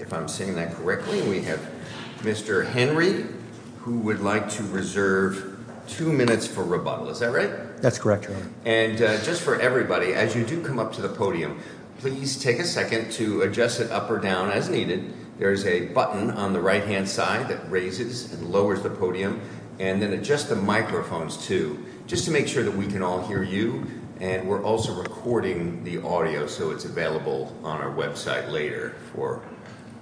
If I'm saying that correctly, we have Mr. Henry, who would like to reserve two minutes for rebuttal. Is that right? That's correct. And just for everybody, as you do come up to the podium, please take a second to adjust it up or down as needed. There's a button on the right-hand side that raises and lowers the podium, and then adjust the microphones, too, just to make sure that we can all hear you. And we're also recording the audio, so it's available on our website later for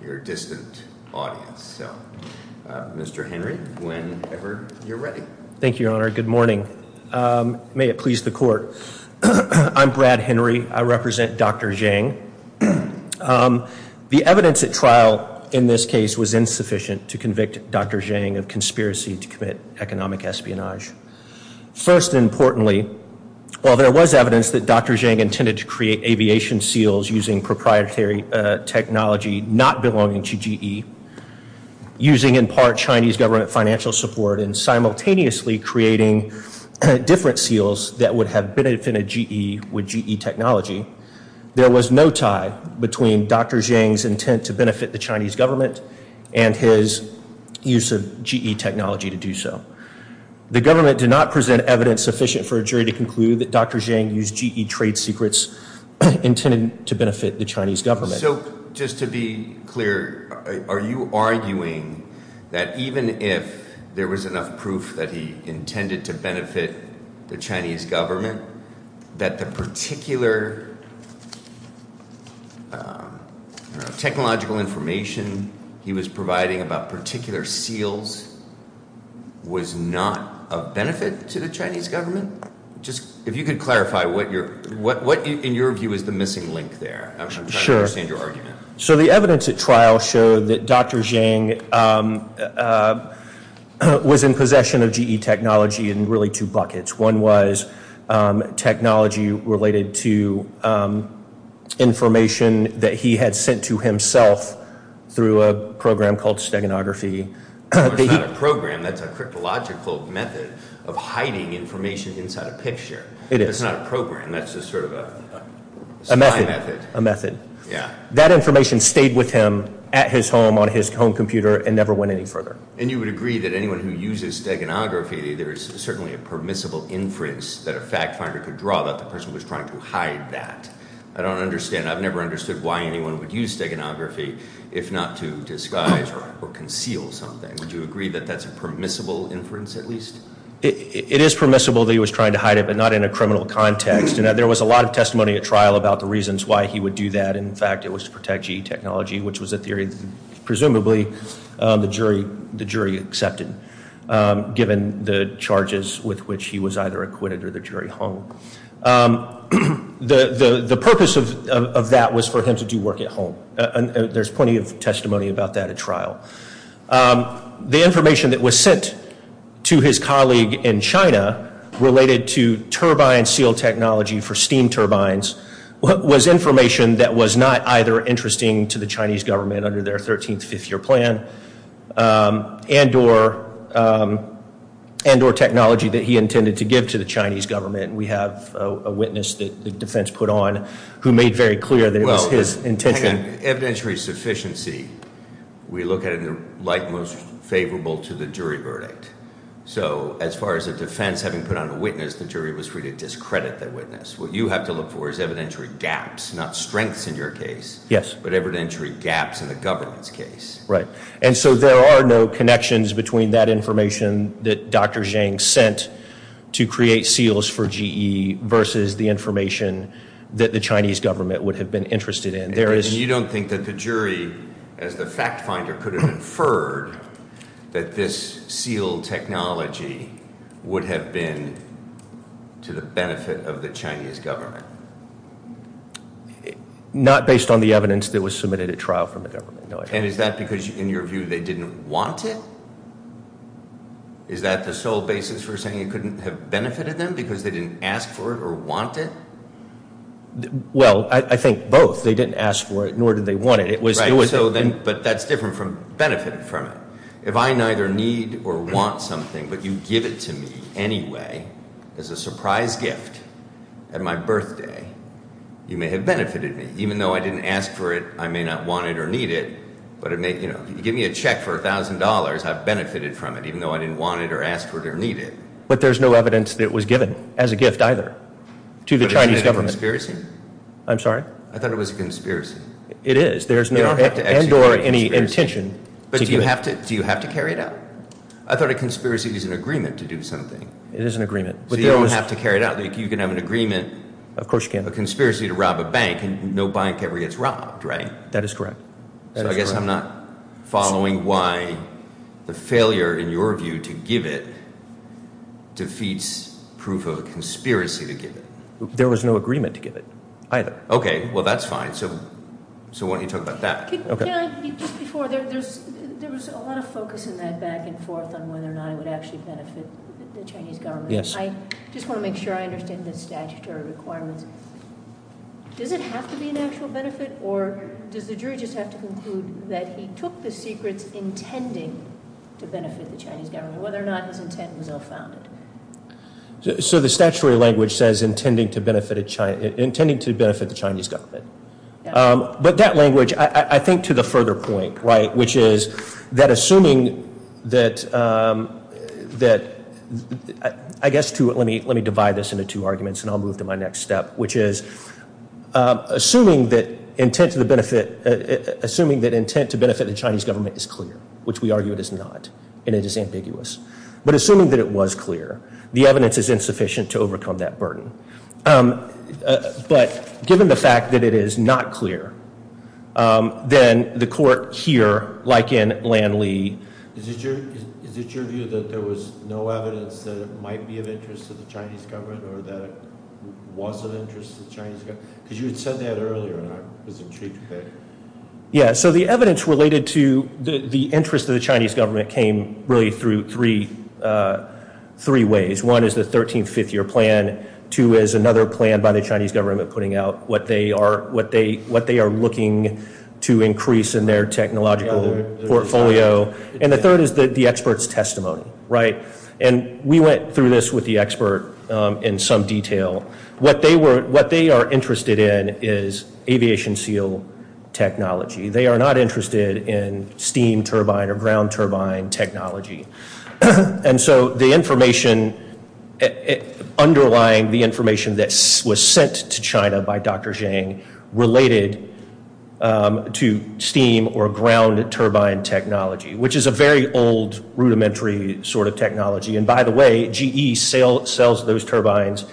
your distant audience. So, Mr. Henry, whenever you're ready. Thank you, Your Honor. Good morning. May it please the Court. I'm Brad Henry. I represent Dr. Zheng. First and importantly, while there was evidence that Dr. Zheng intended to create aviation seals using proprietary technology not belonging to GE, using, in part, Chinese government financial support, and simultaneously creating different seals that would have benefited GE with GE technology, there was no tie between Dr. Zheng's intent to benefit the Chinese government and his use of GE technology to do so. The government did not present evidence sufficient for a jury to conclude that Dr. Zheng used GE trade secrets intended to benefit the Chinese government. So, just to be clear, are you arguing that even if there was enough proof that he intended to benefit the Chinese government, that the particular technological information he was providing about particular seals was not of benefit to the Chinese government? Just if you could clarify what, in your view, is the missing link there. I'm trying to understand your argument. So the evidence at trial showed that Dr. Zheng was in possession of GE technology in really two buckets. One was technology related to information that he had sent to himself through a program called steganography. It's not a program. That's a cryptological method of hiding information inside a picture. It is. It's not a program. That's just sort of a method. A method. Yeah. So that information stayed with him at his home, on his home computer, and never went any further. And you would agree that anyone who uses steganography, there's certainly a permissible inference that a fact finder could draw that the person was trying to hide that. I don't understand. I've never understood why anyone would use steganography if not to disguise or conceal Would you agree that that's a permissible inference, at least? It is permissible that he was trying to hide it, but not in a criminal context. There was a lot of testimony at trial about the reasons why he would do that. In fact, it was to protect GE technology, which was a theory, presumably, the jury accepted, given the charges with which he was either acquitted or the jury hung. The purpose of that was for him to do work at home. There's plenty of testimony about that at trial. The information that was sent to his colleague in China related to turbine seal technology for steam turbines was information that was not either interesting to the Chinese government under their 13th, fifth year plan, and or technology that he intended to give to the Chinese government. We have a witness that the defense put on who made very clear that it was his intention. Evidentiary sufficiency, we look at it like most favorable to the jury verdict. So as far as a defense having put on a witness, the jury was free to discredit that witness. What you have to look for is evidentiary gaps, not strengths in your case, but evidentiary gaps in the government's case. Right, and so there are no connections between that information that Dr. Zhang sent to create seals for GE versus the information that the Chinese government would have been interested in. And you don't think that the jury, as the fact finder, could have inferred that this seal technology would have been to the benefit of the Chinese government? Not based on the evidence that was submitted at trial from the government, no. And is that because, in your view, they didn't want it? Is that the sole basis for saying it couldn't have benefited them because they didn't ask for it or want it? Well, I think both. They didn't ask for it, nor did they want it. It was- Right, so then, but that's different from benefited from it. If I neither need or want something, but you give it to me anyway as a surprise gift at my birthday, you may have benefited me, even though I didn't ask for it, I may not want it or need it. But it may, you know, you give me a check for $1,000, I've benefited from it, even though I didn't want it or ask for it or need it. But there's no evidence that it was given as a gift either to the Chinese government. But isn't it a conspiracy? I'm sorry? I thought it was a conspiracy. It is. There's no- They don't have to execute a conspiracy. And or any intention to do it. But do you have to carry it out? I thought a conspiracy was an agreement to do something. It is an agreement. But there was- So you don't have to carry it out. You can have an agreement- Of course you can. A conspiracy to rob a bank, and no bank ever gets robbed, right? That is correct. So I guess I'm not following why the failure, in your view, to give it defeats proof of a conspiracy to give it. There was no agreement to give it either. Okay, well that's fine. So why don't you talk about that? Okay. Just before, there was a lot of focus in that back and forth on whether or not it would actually benefit the Chinese government. Yes. I just want to make sure I understand the statutory requirements. Does it have to be an actual benefit, or does the jury just have to conclude that he took the secrets intending to benefit the Chinese government, whether or not his intent was ill-founded? So the statutory language says, intending to benefit the Chinese government. But that language, I think, to the further point, right, which is that assuming that, I guess, too, let me divide this into two arguments, and I'll move to my next step. Which is, assuming that intent to benefit the Chinese government is clear, which we argue it is not, and it is ambiguous. But assuming that it was clear, the evidence is insufficient to overcome that burden. But given the fact that it is not clear, then the court here, like in Lan Lee. Is it your view that there was no evidence that it might be of interest to the Chinese government, or that it was of interest to the Chinese government? Because you had said that earlier, and I was intrigued by it. Yeah, so the evidence related to the interest of the Chinese government came really through three ways. One is the 13th fifth year plan, two is another plan by the Chinese government putting out what they are looking to increase in their technological portfolio. And the third is the expert's testimony, right? And we went through this with the expert in some detail. What they are interested in is aviation seal technology. They are not interested in steam turbine or ground turbine technology. And so the information underlying the information that was sent to China by Dr. Zhang related to steam or ground turbine technology. Which is a very old rudimentary sort of technology. And by the way, GE sells those turbines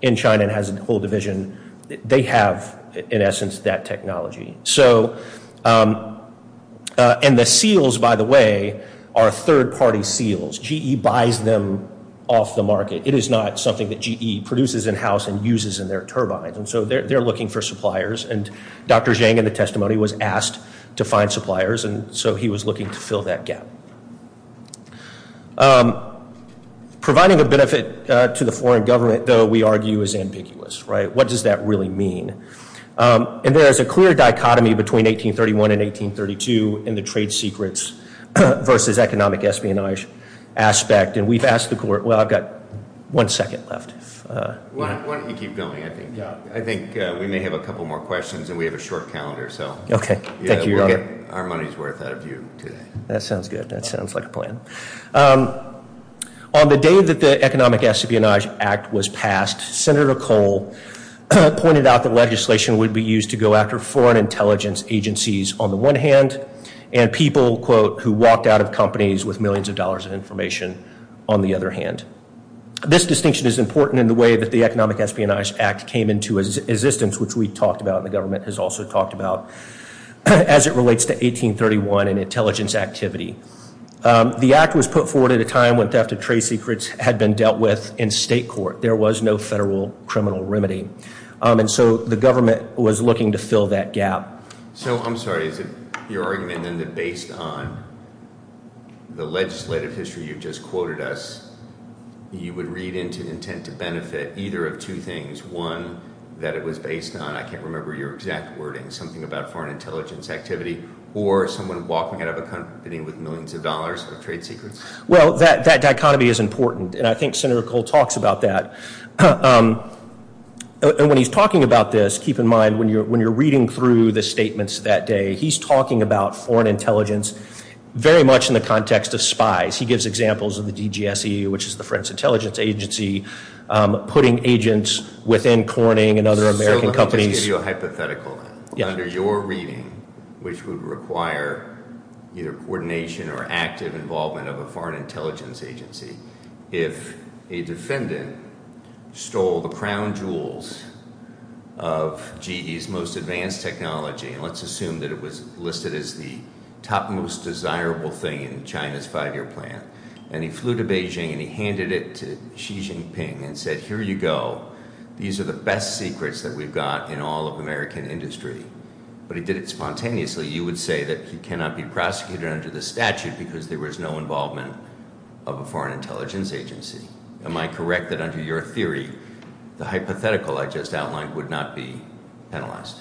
in China and has a whole division. They have, in essence, that technology. So, and the seals, by the way, are third party seals. GE buys them off the market. It is not something that GE produces in house and uses in their turbines. And so they are looking for suppliers. And Dr. Zhang in the testimony was asked to find suppliers, and so he was looking to fill that gap. Providing a benefit to the foreign government, though, we argue is ambiguous, right? What does that really mean? And there is a clear dichotomy between 1831 and 1832 in the trade secrets versus economic espionage aspect. And we've asked the court, well, I've got one second left. Why don't you keep going, I think we may have a couple more questions, and we have a short calendar, so. Okay, thank you, Your Honor. Our money's worth out of you today. That sounds good, that sounds like a plan. On the day that the Economic Espionage Act was passed, Senator Cole pointed out that legislation would be used to go after foreign intelligence agencies on the one hand, and people, quote, who walked out of companies with millions of dollars of information on the other hand. This distinction is important in the way that the Economic Espionage Act came into existence, which we talked about and the government has also talked about, as it relates to 1831 and intelligence activity. The act was put forward at a time when theft of trade secrets had been dealt with in state court. There was no federal criminal remedy, and so the government was looking to fill that gap. So, I'm sorry, is it your argument then that based on the legislative history you just quoted us, you would read into intent to benefit either of two things, one, that it was based on, I can't remember your exact wording, something about foreign intelligence activity, or someone walking out of a company with millions of dollars of trade secrets? Well, that dichotomy is important, and I think Senator Cole talks about that. And when he's talking about this, keep in mind when you're reading through the statements that day, he's talking about foreign intelligence very much in the context of spies. He gives examples of the DGSEU, which is the French Intelligence Agency, putting agents within Corning and other American companies. Let me just give you a hypothetical then. Under your reading, which would require either coordination or active involvement of a foreign intelligence agency, if a defendant stole the crown jewels of GE's most advanced technology, and let's assume that it was listed as the top most desirable thing in China's five year plan. And he flew to Beijing and he handed it to Xi Jinping and said, here you go. These are the best secrets that we've got in all of American industry. But he did it spontaneously. You would say that he cannot be prosecuted under the statute because there was no involvement of a foreign intelligence agency. Am I correct that under your theory, the hypothetical I just outlined would not be penalized?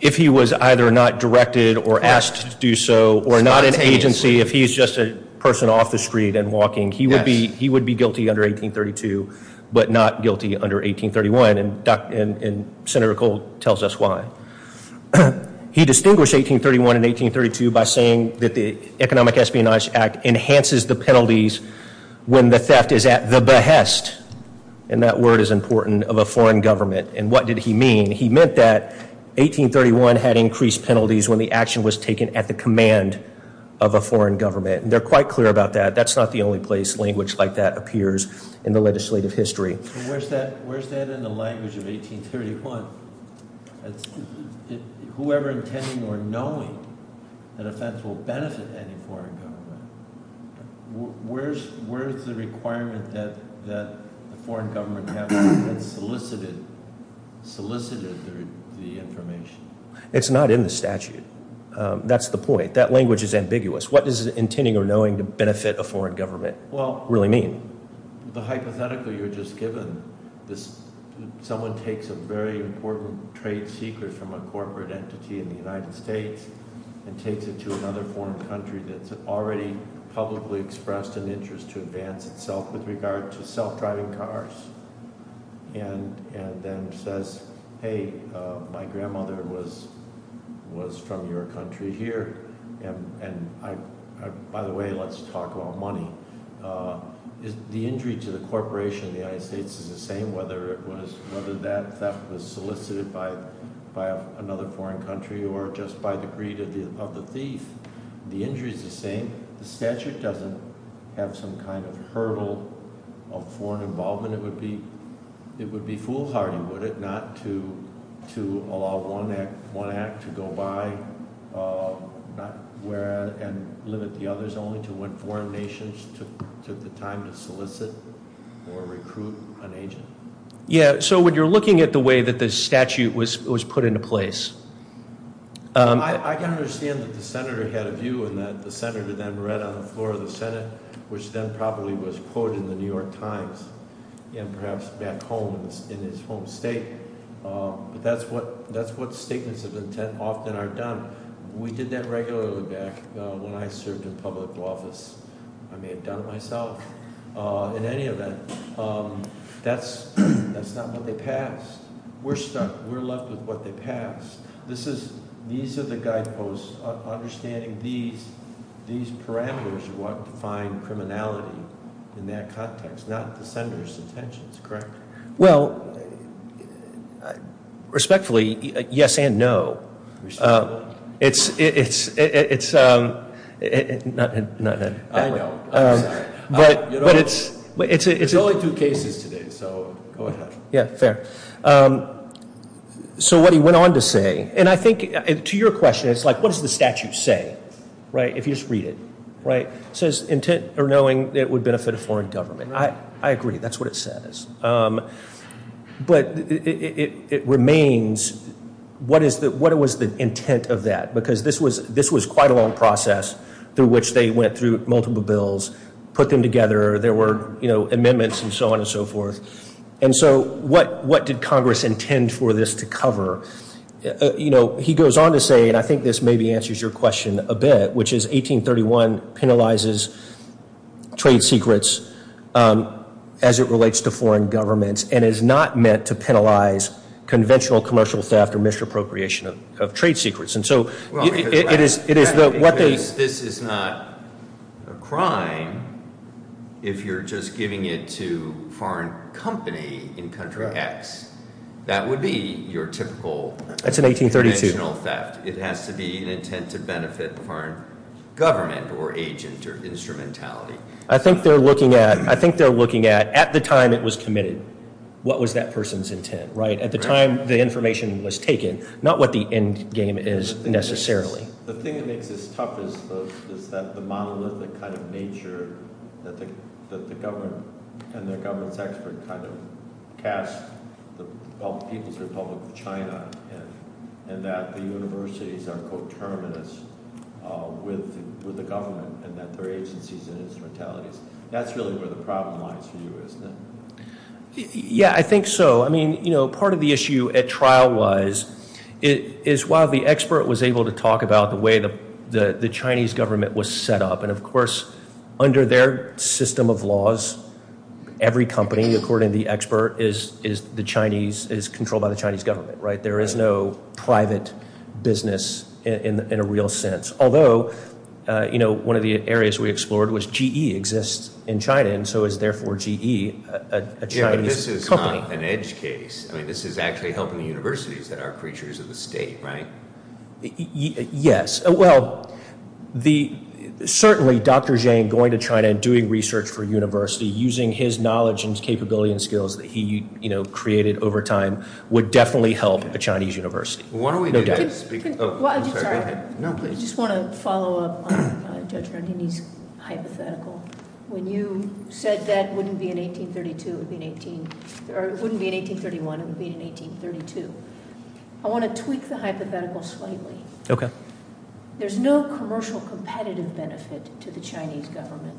If he was either not directed or asked to do so, or not an agency, if he's just a person off the street and walking. He would be guilty under 1832, but not guilty under 1831, and Senator Cole tells us why. He distinguished 1831 and 1832 by saying that the Economic Espionage Act enhances the penalties when the theft is at the behest, and that word is important, of a foreign government. And what did he mean? He meant that 1831 had increased penalties when the action was taken at the command of a foreign government. They're quite clear about that. That's not the only place language like that appears in the legislative history. Where's that in the language of 1831? Whoever intending or knowing an offense will benefit any foreign government. Where's the requirement that the foreign government have solicited the information? It's not in the statute. That's the point. That language is ambiguous. What does intending or knowing to benefit a foreign government really mean? The hypothetical you were just given, someone takes a very important trade secret from a corporate entity in the United States. And takes it to another foreign country that's already publicly expressed an interest to advance itself with regard to self-driving cars. And then says, hey, my grandmother was from your country here. And by the way, let's talk about money. The injury to the corporation of the United States is the same, whether that theft was solicited by another foreign country or just by the greed of the thief. The injury is the same. The statute doesn't have some kind of hurdle of foreign involvement. It would be foolhardy, would it, not to allow one act to go by. And limit the others only to when foreign nations took the time to solicit or recruit an agent. Yeah, so when you're looking at the way that the statute was put into place. I can understand that the Senator had a view and that the Senator then read on the floor of the Senate, which then probably was quoted in the New York Times and perhaps back home in his home state. But that's what statements of intent often are done. We did that regularly back when I served in public office. I may have done it myself in any event. That's not what they passed. We're stuck. We're left with what they passed. This is, these are the guideposts, understanding these parameters are what define criminality in that context, not the Senator's intentions, correct? Well, respectfully, yes and no. It's, not that. I know, I'm sorry. But it's- There's only two cases today, so go ahead. Yeah, fair. So what he went on to say, and I think to your question, it's like, what does the statute say? Right, if you just read it. Right, it says intent or knowing it would benefit a foreign government. I agree, that's what it says. But it remains, what was the intent of that? Because this was quite a long process through which they went through multiple bills, put them together. There were amendments and so on and so forth. And so what did Congress intend for this to cover? He goes on to say, and I think this maybe answers your question a bit, which is 1831 penalizes trade secrets as it relates to foreign governments. And is not meant to penalize conventional commercial theft or misappropriation of trade secrets. And so, it is what they- This is not a crime if you're just giving it to foreign company in country X. That would be your typical- That's in 1832. Conventional theft, it has to be an intent to benefit the foreign government or agent or instrumentality. I think they're looking at, at the time it was committed, what was that person's intent, right? At the time the information was taken, not what the end game is necessarily. The thing that makes this tough is that the monolithic kind of nature that the government and that the universities are co-terminus with the government and that their agencies and instrumentalities. That's really where the problem lies for you, isn't it? Yeah, I think so. I mean, part of the issue at trial was, is while the expert was able to talk about the way the Chinese government was set up. And of course, under their system of laws, every company, according to the expert, is controlled by the Chinese government, right? There is no private business in a real sense. Although, one of the areas we explored was GE exists in China, and so is therefore GE a Chinese company. Yeah, but this is not an edge case. I mean, this is actually helping the universities that are creatures of the state, right? Yes, well, certainly Dr. Zhang going to China and doing research for the Chinese university, no doubt. I just want to follow up on Judge Rodini's hypothetical. When you said that wouldn't be in 1832, it would be in 18, or it wouldn't be in 1831, it would be in 1832. I want to tweak the hypothetical slightly. Okay. There's no commercial competitive benefit to the Chinese government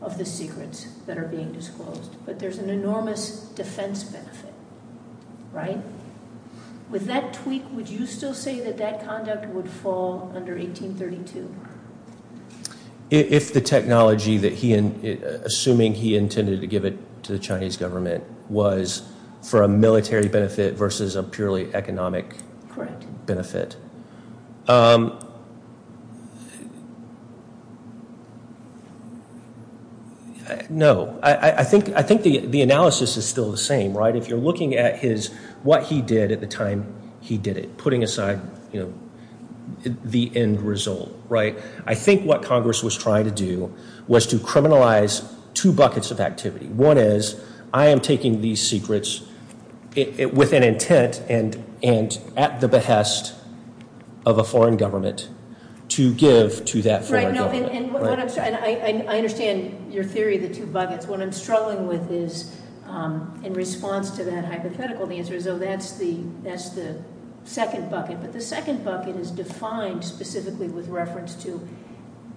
of the secrets that are being disclosed. But there's an enormous defense benefit, right? With that tweak, would you still say that that conduct would fall under 1832? If the technology that he, assuming he intended to give it to the Chinese government, was for a military benefit versus a purely economic benefit. Correct. No, I think the analysis is still the same, right? If you're looking at his, what he did at the time he did it, putting aside the end result, right? I think what Congress was trying to do was to criminalize two buckets of activity. One is, I am taking these secrets with an intent and at the behest of a foreign government to give to that foreign government. Right, and I understand your theory, the two buckets. What I'm struggling with is, in response to that hypothetical, the answer is, that's the second bucket. But the second bucket is defined specifically with reference to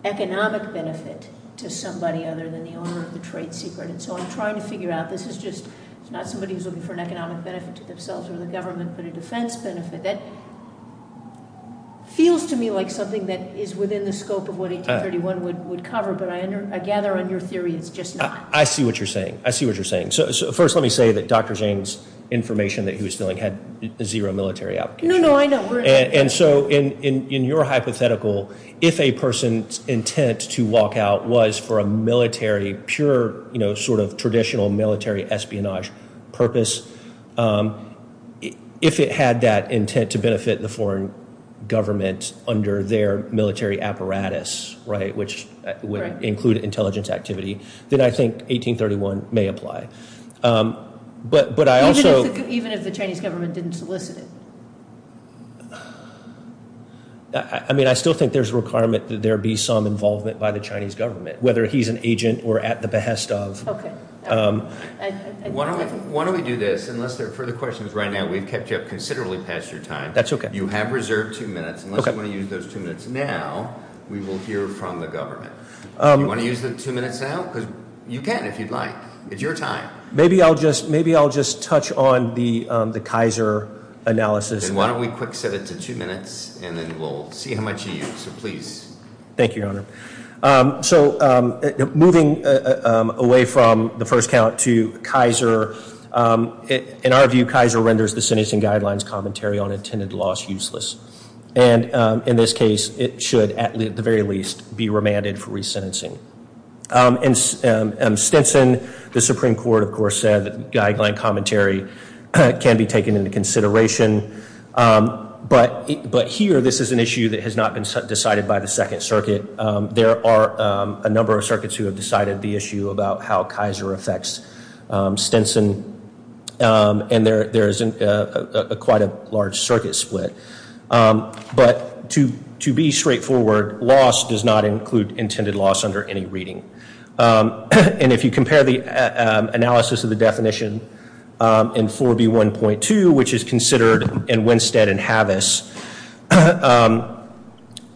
economic benefit to somebody other than the owner of the trade secret. And so I'm trying to figure out, this is just, it's not somebody who's looking for an economic benefit to themselves or the government, but a defense benefit. That feels to me like something that is within the scope of what 1831 would cover, but I gather on your theory it's just not. I see what you're saying, I see what you're saying. So first let me say that Dr. Zane's information that he was filling had zero military application. No, no, I know. And so in your hypothetical, if a person's intent to walk out was for a military, pure sort of traditional military espionage purpose, if it had that intent to benefit the foreign government under their military apparatus, right? Which would include intelligence activity. Then I think 1831 may apply. But I also- Even if the Chinese government didn't solicit it? I mean, I still think there's a requirement that there be some involvement by the Chinese government, whether he's an agent or at the behest of. Okay, all right. Why don't we do this, unless there are further questions, right now we've kept you up considerably past your time. That's okay. You have reserved two minutes, unless you want to use those two minutes now, we will hear from the government. You want to use the two minutes now? Because you can if you'd like. It's your time. Maybe I'll just touch on the Kaiser analysis. Then why don't we quick set it to two minutes and then we'll see how much you use, so please. Thank you, Your Honor. So moving away from the first count to Kaiser, in our view Kaiser renders the sentencing guidelines commentary on intended loss useless. And in this case, it should at the very least be remanded for resentencing. In Stinson, the Supreme Court, of course, said that guideline commentary can be taken into consideration. But here, this is an issue that has not been decided by the Second Circuit. There are a number of circuits who have decided the issue about how Kaiser affects Stinson. And there is quite a large circuit split. But to be straightforward, loss does not include intended loss under any reading. And if you compare the analysis of the definition in 4B1.2, which is considered in Winstead and Havis,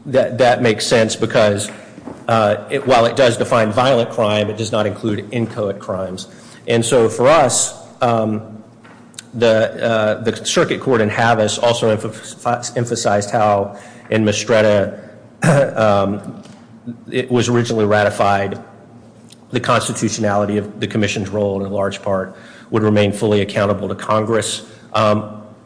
that makes sense. Because while it does define violent crime, it does not include inchoate crimes. And so for us, the circuit court in Havis also emphasized how in Mistretta, it was originally ratified. The constitutionality of the commission's role in large part would remain fully accountable to Congress.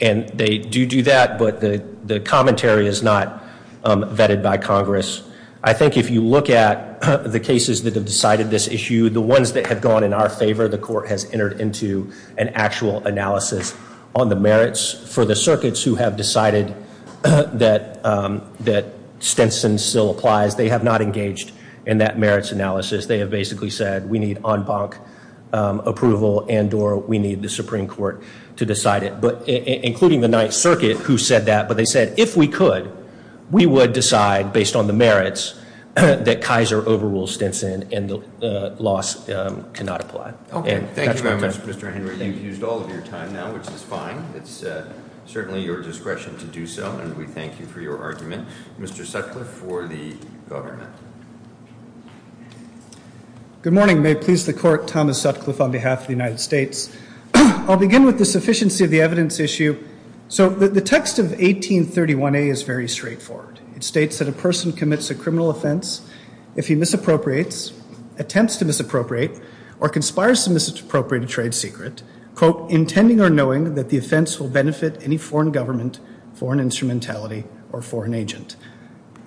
And they do do that, but the commentary is not vetted by Congress. I think if you look at the cases that have decided this issue, the ones that have gone in our favor, the court has entered into an actual analysis on the merits for the circuits who have decided that Stinson still applies. They have not engaged in that merits analysis. They have basically said we need en banc approval and or we need the Supreme Court to decide it. But including the Ninth Circuit who said that. But they said if we could, we would decide based on the merits that Kaiser overrules Stinson and the loss cannot apply. And that's what we've done. Mr. Henry, you've used all of your time now, which is fine. It's certainly your discretion to do so, and we thank you for your argument. Mr. Sutcliffe for the government. Good morning, may it please the court. Thomas Sutcliffe on behalf of the United States. I'll begin with the sufficiency of the evidence issue. So the text of 1831A is very straightforward. It states that a person commits a criminal offense if he misappropriates, attempts to misappropriate, or conspires to misappropriate a trade secret, quote, intending or knowing that the offense will benefit any foreign government, foreign instrumentality, or foreign agent.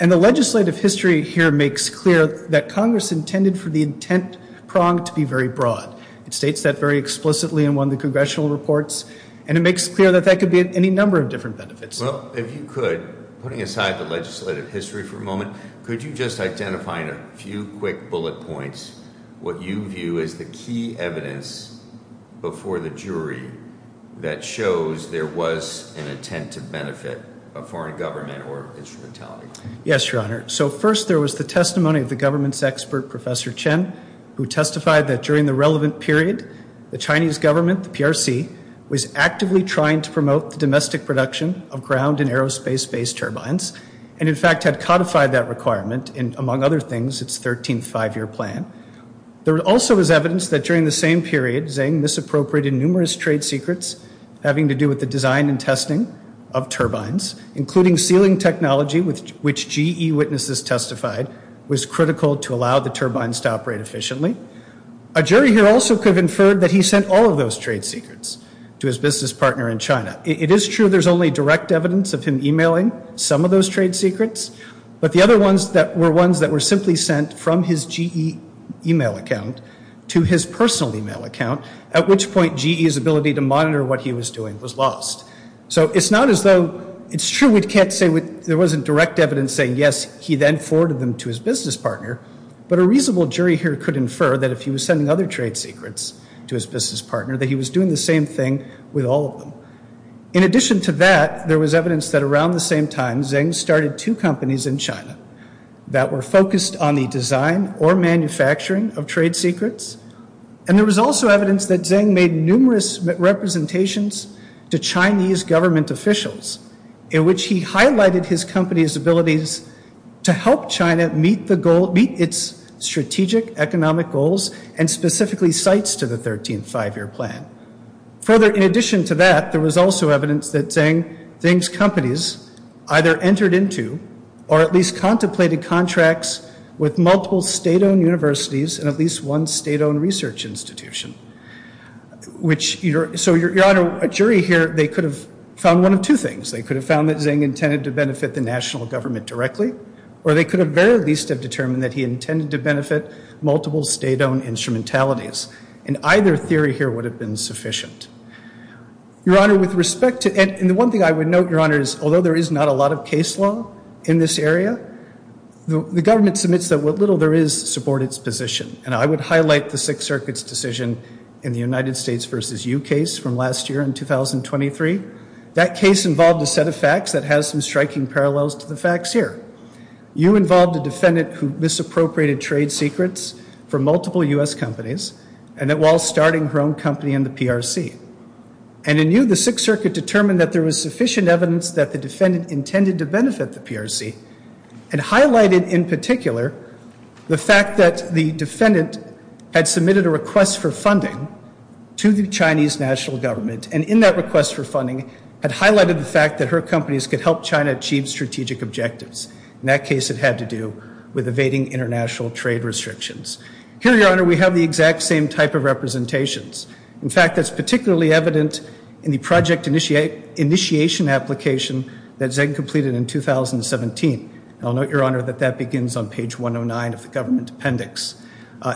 And the legislative history here makes clear that Congress intended for the intent prong to be very broad. It states that very explicitly in one of the congressional reports. And it makes clear that that could be any number of different benefits. Well, if you could, putting aside the legislative history for a moment, could you just identify in a few quick bullet points, what you view as the key evidence before the jury that shows there was an intent to benefit a foreign government or instrumentality? Yes, your honor. So first, there was the testimony of the government's expert, Professor Chen, who testified that during the relevant period, the Chinese government, the PRC, was actively trying to promote the domestic production of ground and aerospace-based turbines. And in fact, had codified that requirement in, among other things, its 13th five-year plan. There also was evidence that during the same period, Zheng misappropriated numerous trade secrets having to do with the design and testing of turbines, including sealing technology, which GE witnesses testified was critical to allow the turbines to operate efficiently. A jury here also could have inferred that he sent all of those trade secrets to his business partner in China. It is true there's only direct evidence of him emailing some of those trade secrets, but the other ones that were ones that were simply sent from his GE email account to his personal email account, at which point GE's ability to monitor what he was doing was lost. So it's not as though, it's true we can't say there wasn't direct evidence saying, yes, he then forwarded them to his business partner, but a reasonable jury here could infer that if he was sending other trade secrets to his business partner, that he was doing the same thing with all of them. In addition to that, there was evidence that around the same time, Zheng started two companies in China that were focused on the design or manufacturing of trade secrets. And there was also evidence that Zheng made numerous representations to Chinese government officials, in which he highlighted his company's abilities to help China meet its strategic economic goals, and specifically cites to the 13th Five-Year Plan. Further, in addition to that, there was also evidence that Zheng's companies either entered into, or at least contemplated contracts with multiple state-owned universities and at least one state-owned research institution. Which, so Your Honor, a jury here, they could have found one of two things. They could have found that Zheng intended to benefit the national government directly, or they could have very least have determined that he intended to benefit multiple state-owned instrumentalities. And either theory here would have been sufficient. Your Honor, with respect to, and the one thing I would note, Your Honor, is although there is not a lot of case law in this area, the government submits that what little there is support its position. And I would highlight the Sixth Circuit's decision in the United States versus you case from last year in 2023. That case involved a set of facts that has some striking parallels to the facts here. You involved a defendant who misappropriated trade secrets from multiple U.S. companies, and that while starting her own company in the PRC. And in you, the Sixth Circuit determined that there was sufficient evidence that the defendant intended to benefit the PRC. And highlighted in particular, the fact that the defendant had submitted a request for funding to the Chinese national government. And in that request for funding, had highlighted the fact that her companies could help China achieve strategic objectives. In that case, it had to do with evading international trade restrictions. Here, Your Honor, we have the exact same type of representations. In fact, that's particularly evident in the project initiation application that Zheng completed in 2017. I'll note, Your Honor, that that begins on page 109 of the government appendix.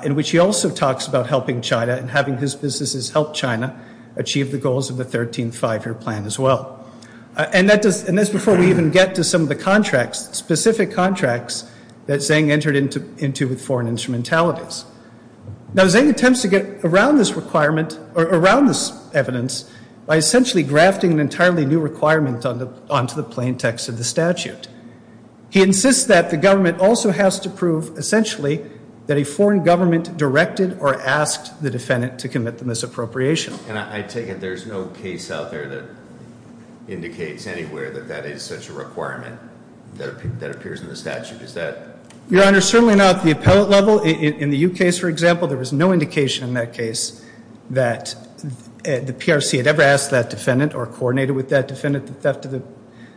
In which he also talks about helping China and having his businesses help China achieve the goals of the 13th Five-Year Plan as well. And that's before we even get to some of the contracts, specific contracts, that Zheng entered into with foreign instrumentalities. Now, Zheng attempts to get around this requirement, or around this evidence, by essentially grafting an entirely new requirement onto the plain text of the statute. He insists that the government also has to prove, essentially, that a foreign government directed or asked the defendant to commit the misappropriation. And I take it there's no case out there that indicates anywhere that that is such a requirement that appears in the statute, is that? Your Honor, certainly not at the appellate level. In the U case, for example, there was no indication in that case that the PRC had ever asked that defendant, or coordinated with that defendant, the theft of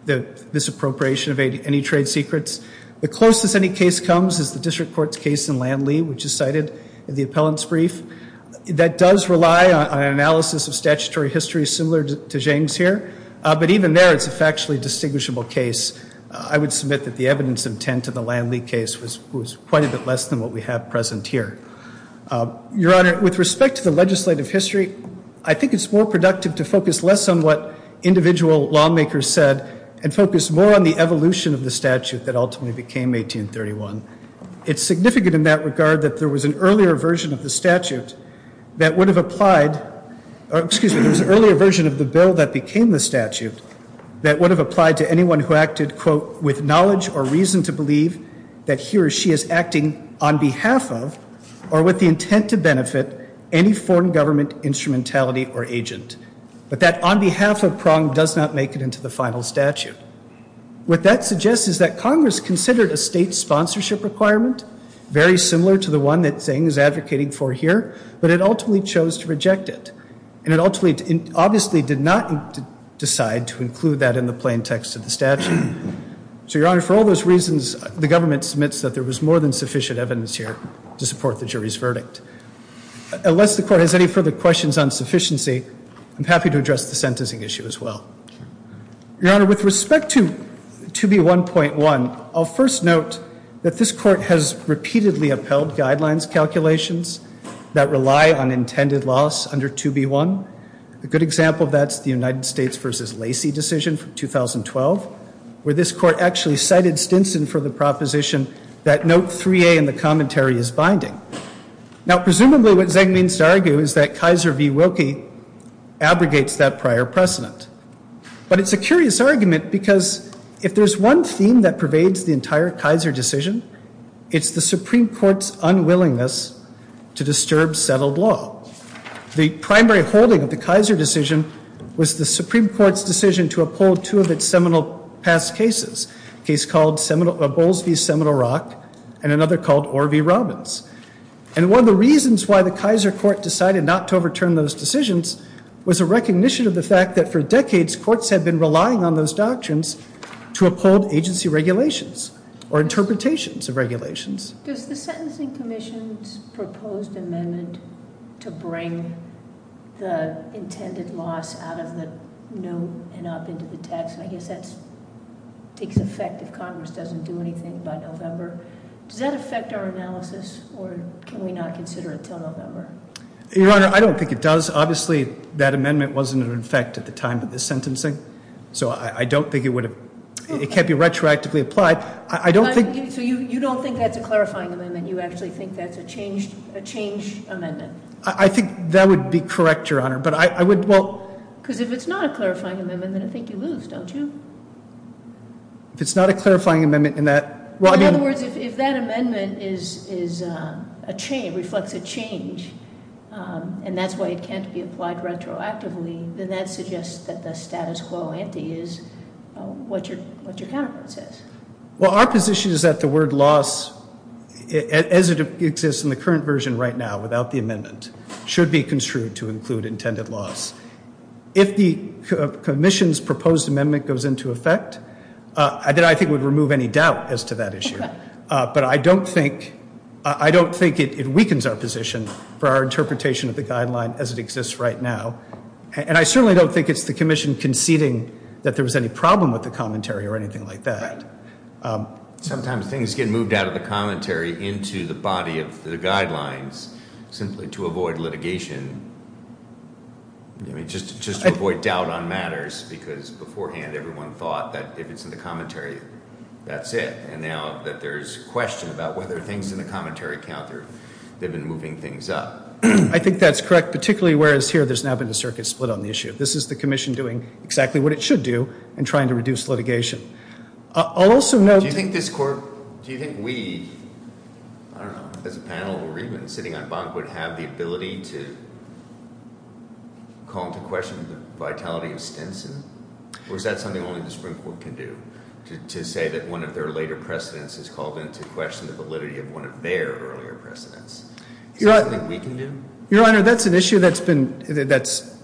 the misappropriation of any trade secrets. The closest any case comes is the district court's case in Lanley, which is cited in the appellant's brief. That does rely on an analysis of statutory history similar to Zheng's here. But even there, it's a factually distinguishable case. I would submit that the evidence intent in the Lanley case was quite a bit less than what we have present here. Your Honor, with respect to the legislative history, I think it's more productive to focus less on what individual lawmakers said, and focus more on the evolution of the statute that ultimately became 1831. It's significant in that regard that there was an earlier version of the statute that would have applied, or excuse me, there was an earlier version of the bill that became the statute that would have applied to anyone who acted, quote, with knowledge or reason to believe that he or she is acting on behalf of, or with the intent to benefit, any foreign government instrumentality or agent. But that on behalf of prong does not make it into the final statute. What that suggests is that Congress considered a state sponsorship requirement, very similar to the one that Zheng is advocating for here, but it ultimately chose to reject it. And it ultimately, obviously did not decide to include that in the plain text of the statute. So, Your Honor, for all those reasons, the government submits that there was more than sufficient evidence here to support the jury's verdict. Unless the court has any further questions on sufficiency, I'm happy to address the sentencing issue as well. Your Honor, with respect to 2B1.1, I'll first note that this court has repeatedly upheld guidelines calculations that rely on intended loss under 2B1. A good example of that's the United States versus Lacey decision from 2012, where this court actually cited Stinson for the proposition that note 3A in the commentary is binding. Now, presumably what Zheng means to argue is that Kaiser v. Wilkie abrogates that prior precedent. But it's a curious argument because if there's one theme that pervades the entire Kaiser decision, it's the Supreme Court's unwillingness to disturb settled law. The primary holding of the Kaiser decision was the Supreme Court's decision to uphold two of its seminal past cases. A case called Bowles v. Seminole Rock and another called Orr v. Robbins. And one of the reasons why the Kaiser court decided not to overturn those decisions was a recognition of the fact that for decades courts had been relying on those doctrines to uphold agency regulations or interpretations of regulations. Does the Sentencing Commission's proposed amendment to bring the intended loss out of the new and up into the text, I guess that's, takes effect if Congress doesn't do anything by November. Does that affect our analysis or can we not consider it until November? Your Honor, I don't think it does. Obviously, that amendment wasn't in effect at the time of this sentencing. So I don't think it would have, it can't be retroactively applied. I don't think- So you don't think that's a clarifying amendment? You actually think that's a change amendment? I think that would be correct, Your Honor. But I would, well- Because if it's not a clarifying amendment, I think you lose, don't you? If it's not a clarifying amendment in that, well, I mean- And that's why it can't be applied retroactively, then that suggests that the status quo ante is what your counterpart says. Well, our position is that the word loss, as it exists in the current version right now without the amendment, should be construed to include intended loss. If the commission's proposed amendment goes into effect, that I think would remove any doubt as to that issue. But I don't think it weakens our position for our interpretation of the guideline as it exists right now. And I certainly don't think it's the commission conceding that there was any problem with the commentary or anything like that. Right. Sometimes things get moved out of the commentary into the body of the guidelines simply to avoid litigation. I mean, just to avoid doubt on matters, because beforehand everyone thought that if it's in the commentary, that's it. And now that there's a question about whether things in the commentary count or they've been moving things up. I think that's correct, particularly whereas here there's now been a circuit split on the issue. This is the commission doing exactly what it should do in trying to reduce litigation. I'll also note- Do you think this court, do you think we, I don't know, as a panel or even sitting on bunk, would have the ability to call into question the vitality of Stinson? Or is that something only the Supreme Court can do, to say that one of their later precedents has called into question the validity of one of their earlier precedents? Is that something we can do? Your Honor, that's an issue that's been, that's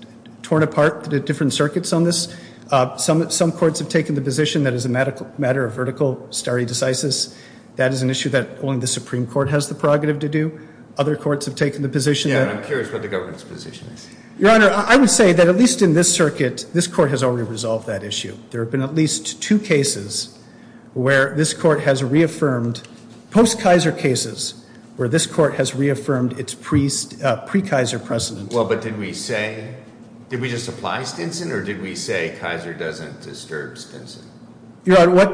torn apart the different circuits on this. Some courts have taken the position that as a matter of vertical stare decisis, that is an issue that only the Supreme Court has the prerogative to do. Other courts have taken the position that- Yeah, and I'm curious what the government's position is. Your Honor, I would say that at least in this circuit, this court has already resolved that issue. There have been at least two cases where this court has reaffirmed, post-Kaiser cases, where this court has reaffirmed its pre-Kaiser precedent. Well, but did we say, did we just apply Stinson, or did we say Kaiser doesn't disturb Stinson? Your Honor,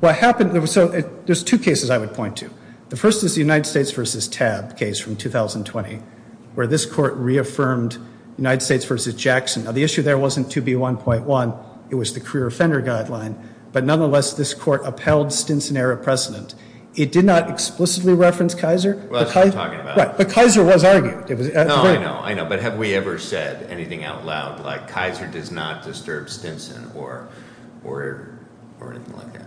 what happened, so there's two cases I would point to. The first is the United States versus TAB case from 2020, where this court reaffirmed United States versus Jackson. Now, the issue there wasn't 2B1.1, it was the career offender guideline. But nonetheless, this court upheld Stinson-era precedent. It did not explicitly reference Kaiser. Well, that's what I'm talking about. Right, but Kaiser was argued. No, I know, I know, but have we ever said anything out loud like Kaiser does not disturb Stinson, or anything like that?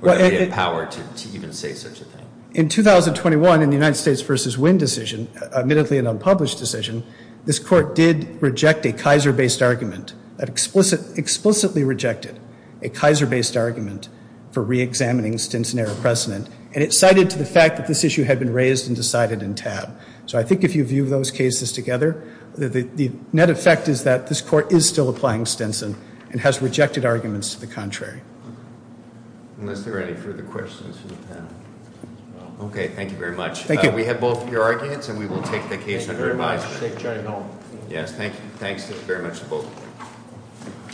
Were we empowered to even say such a thing? In 2021, in the United States versus Winn decision, admittedly an unpublished decision, this court did reject a Kaiser-based argument, explicitly rejected a Kaiser-based argument for reexamining Stinson-era precedent, and it cited to the fact that this issue had been raised and decided in TAB. So I think if you view those cases together, the net effect is that this court is still applying Stinson and has rejected arguments to the contrary. Unless there are any further questions from the panel. Okay, thank you very much. Thank you. We have both your arguments, and we will take the case under advisory. Thank you very much. Yes, thank you. Thanks very much to both.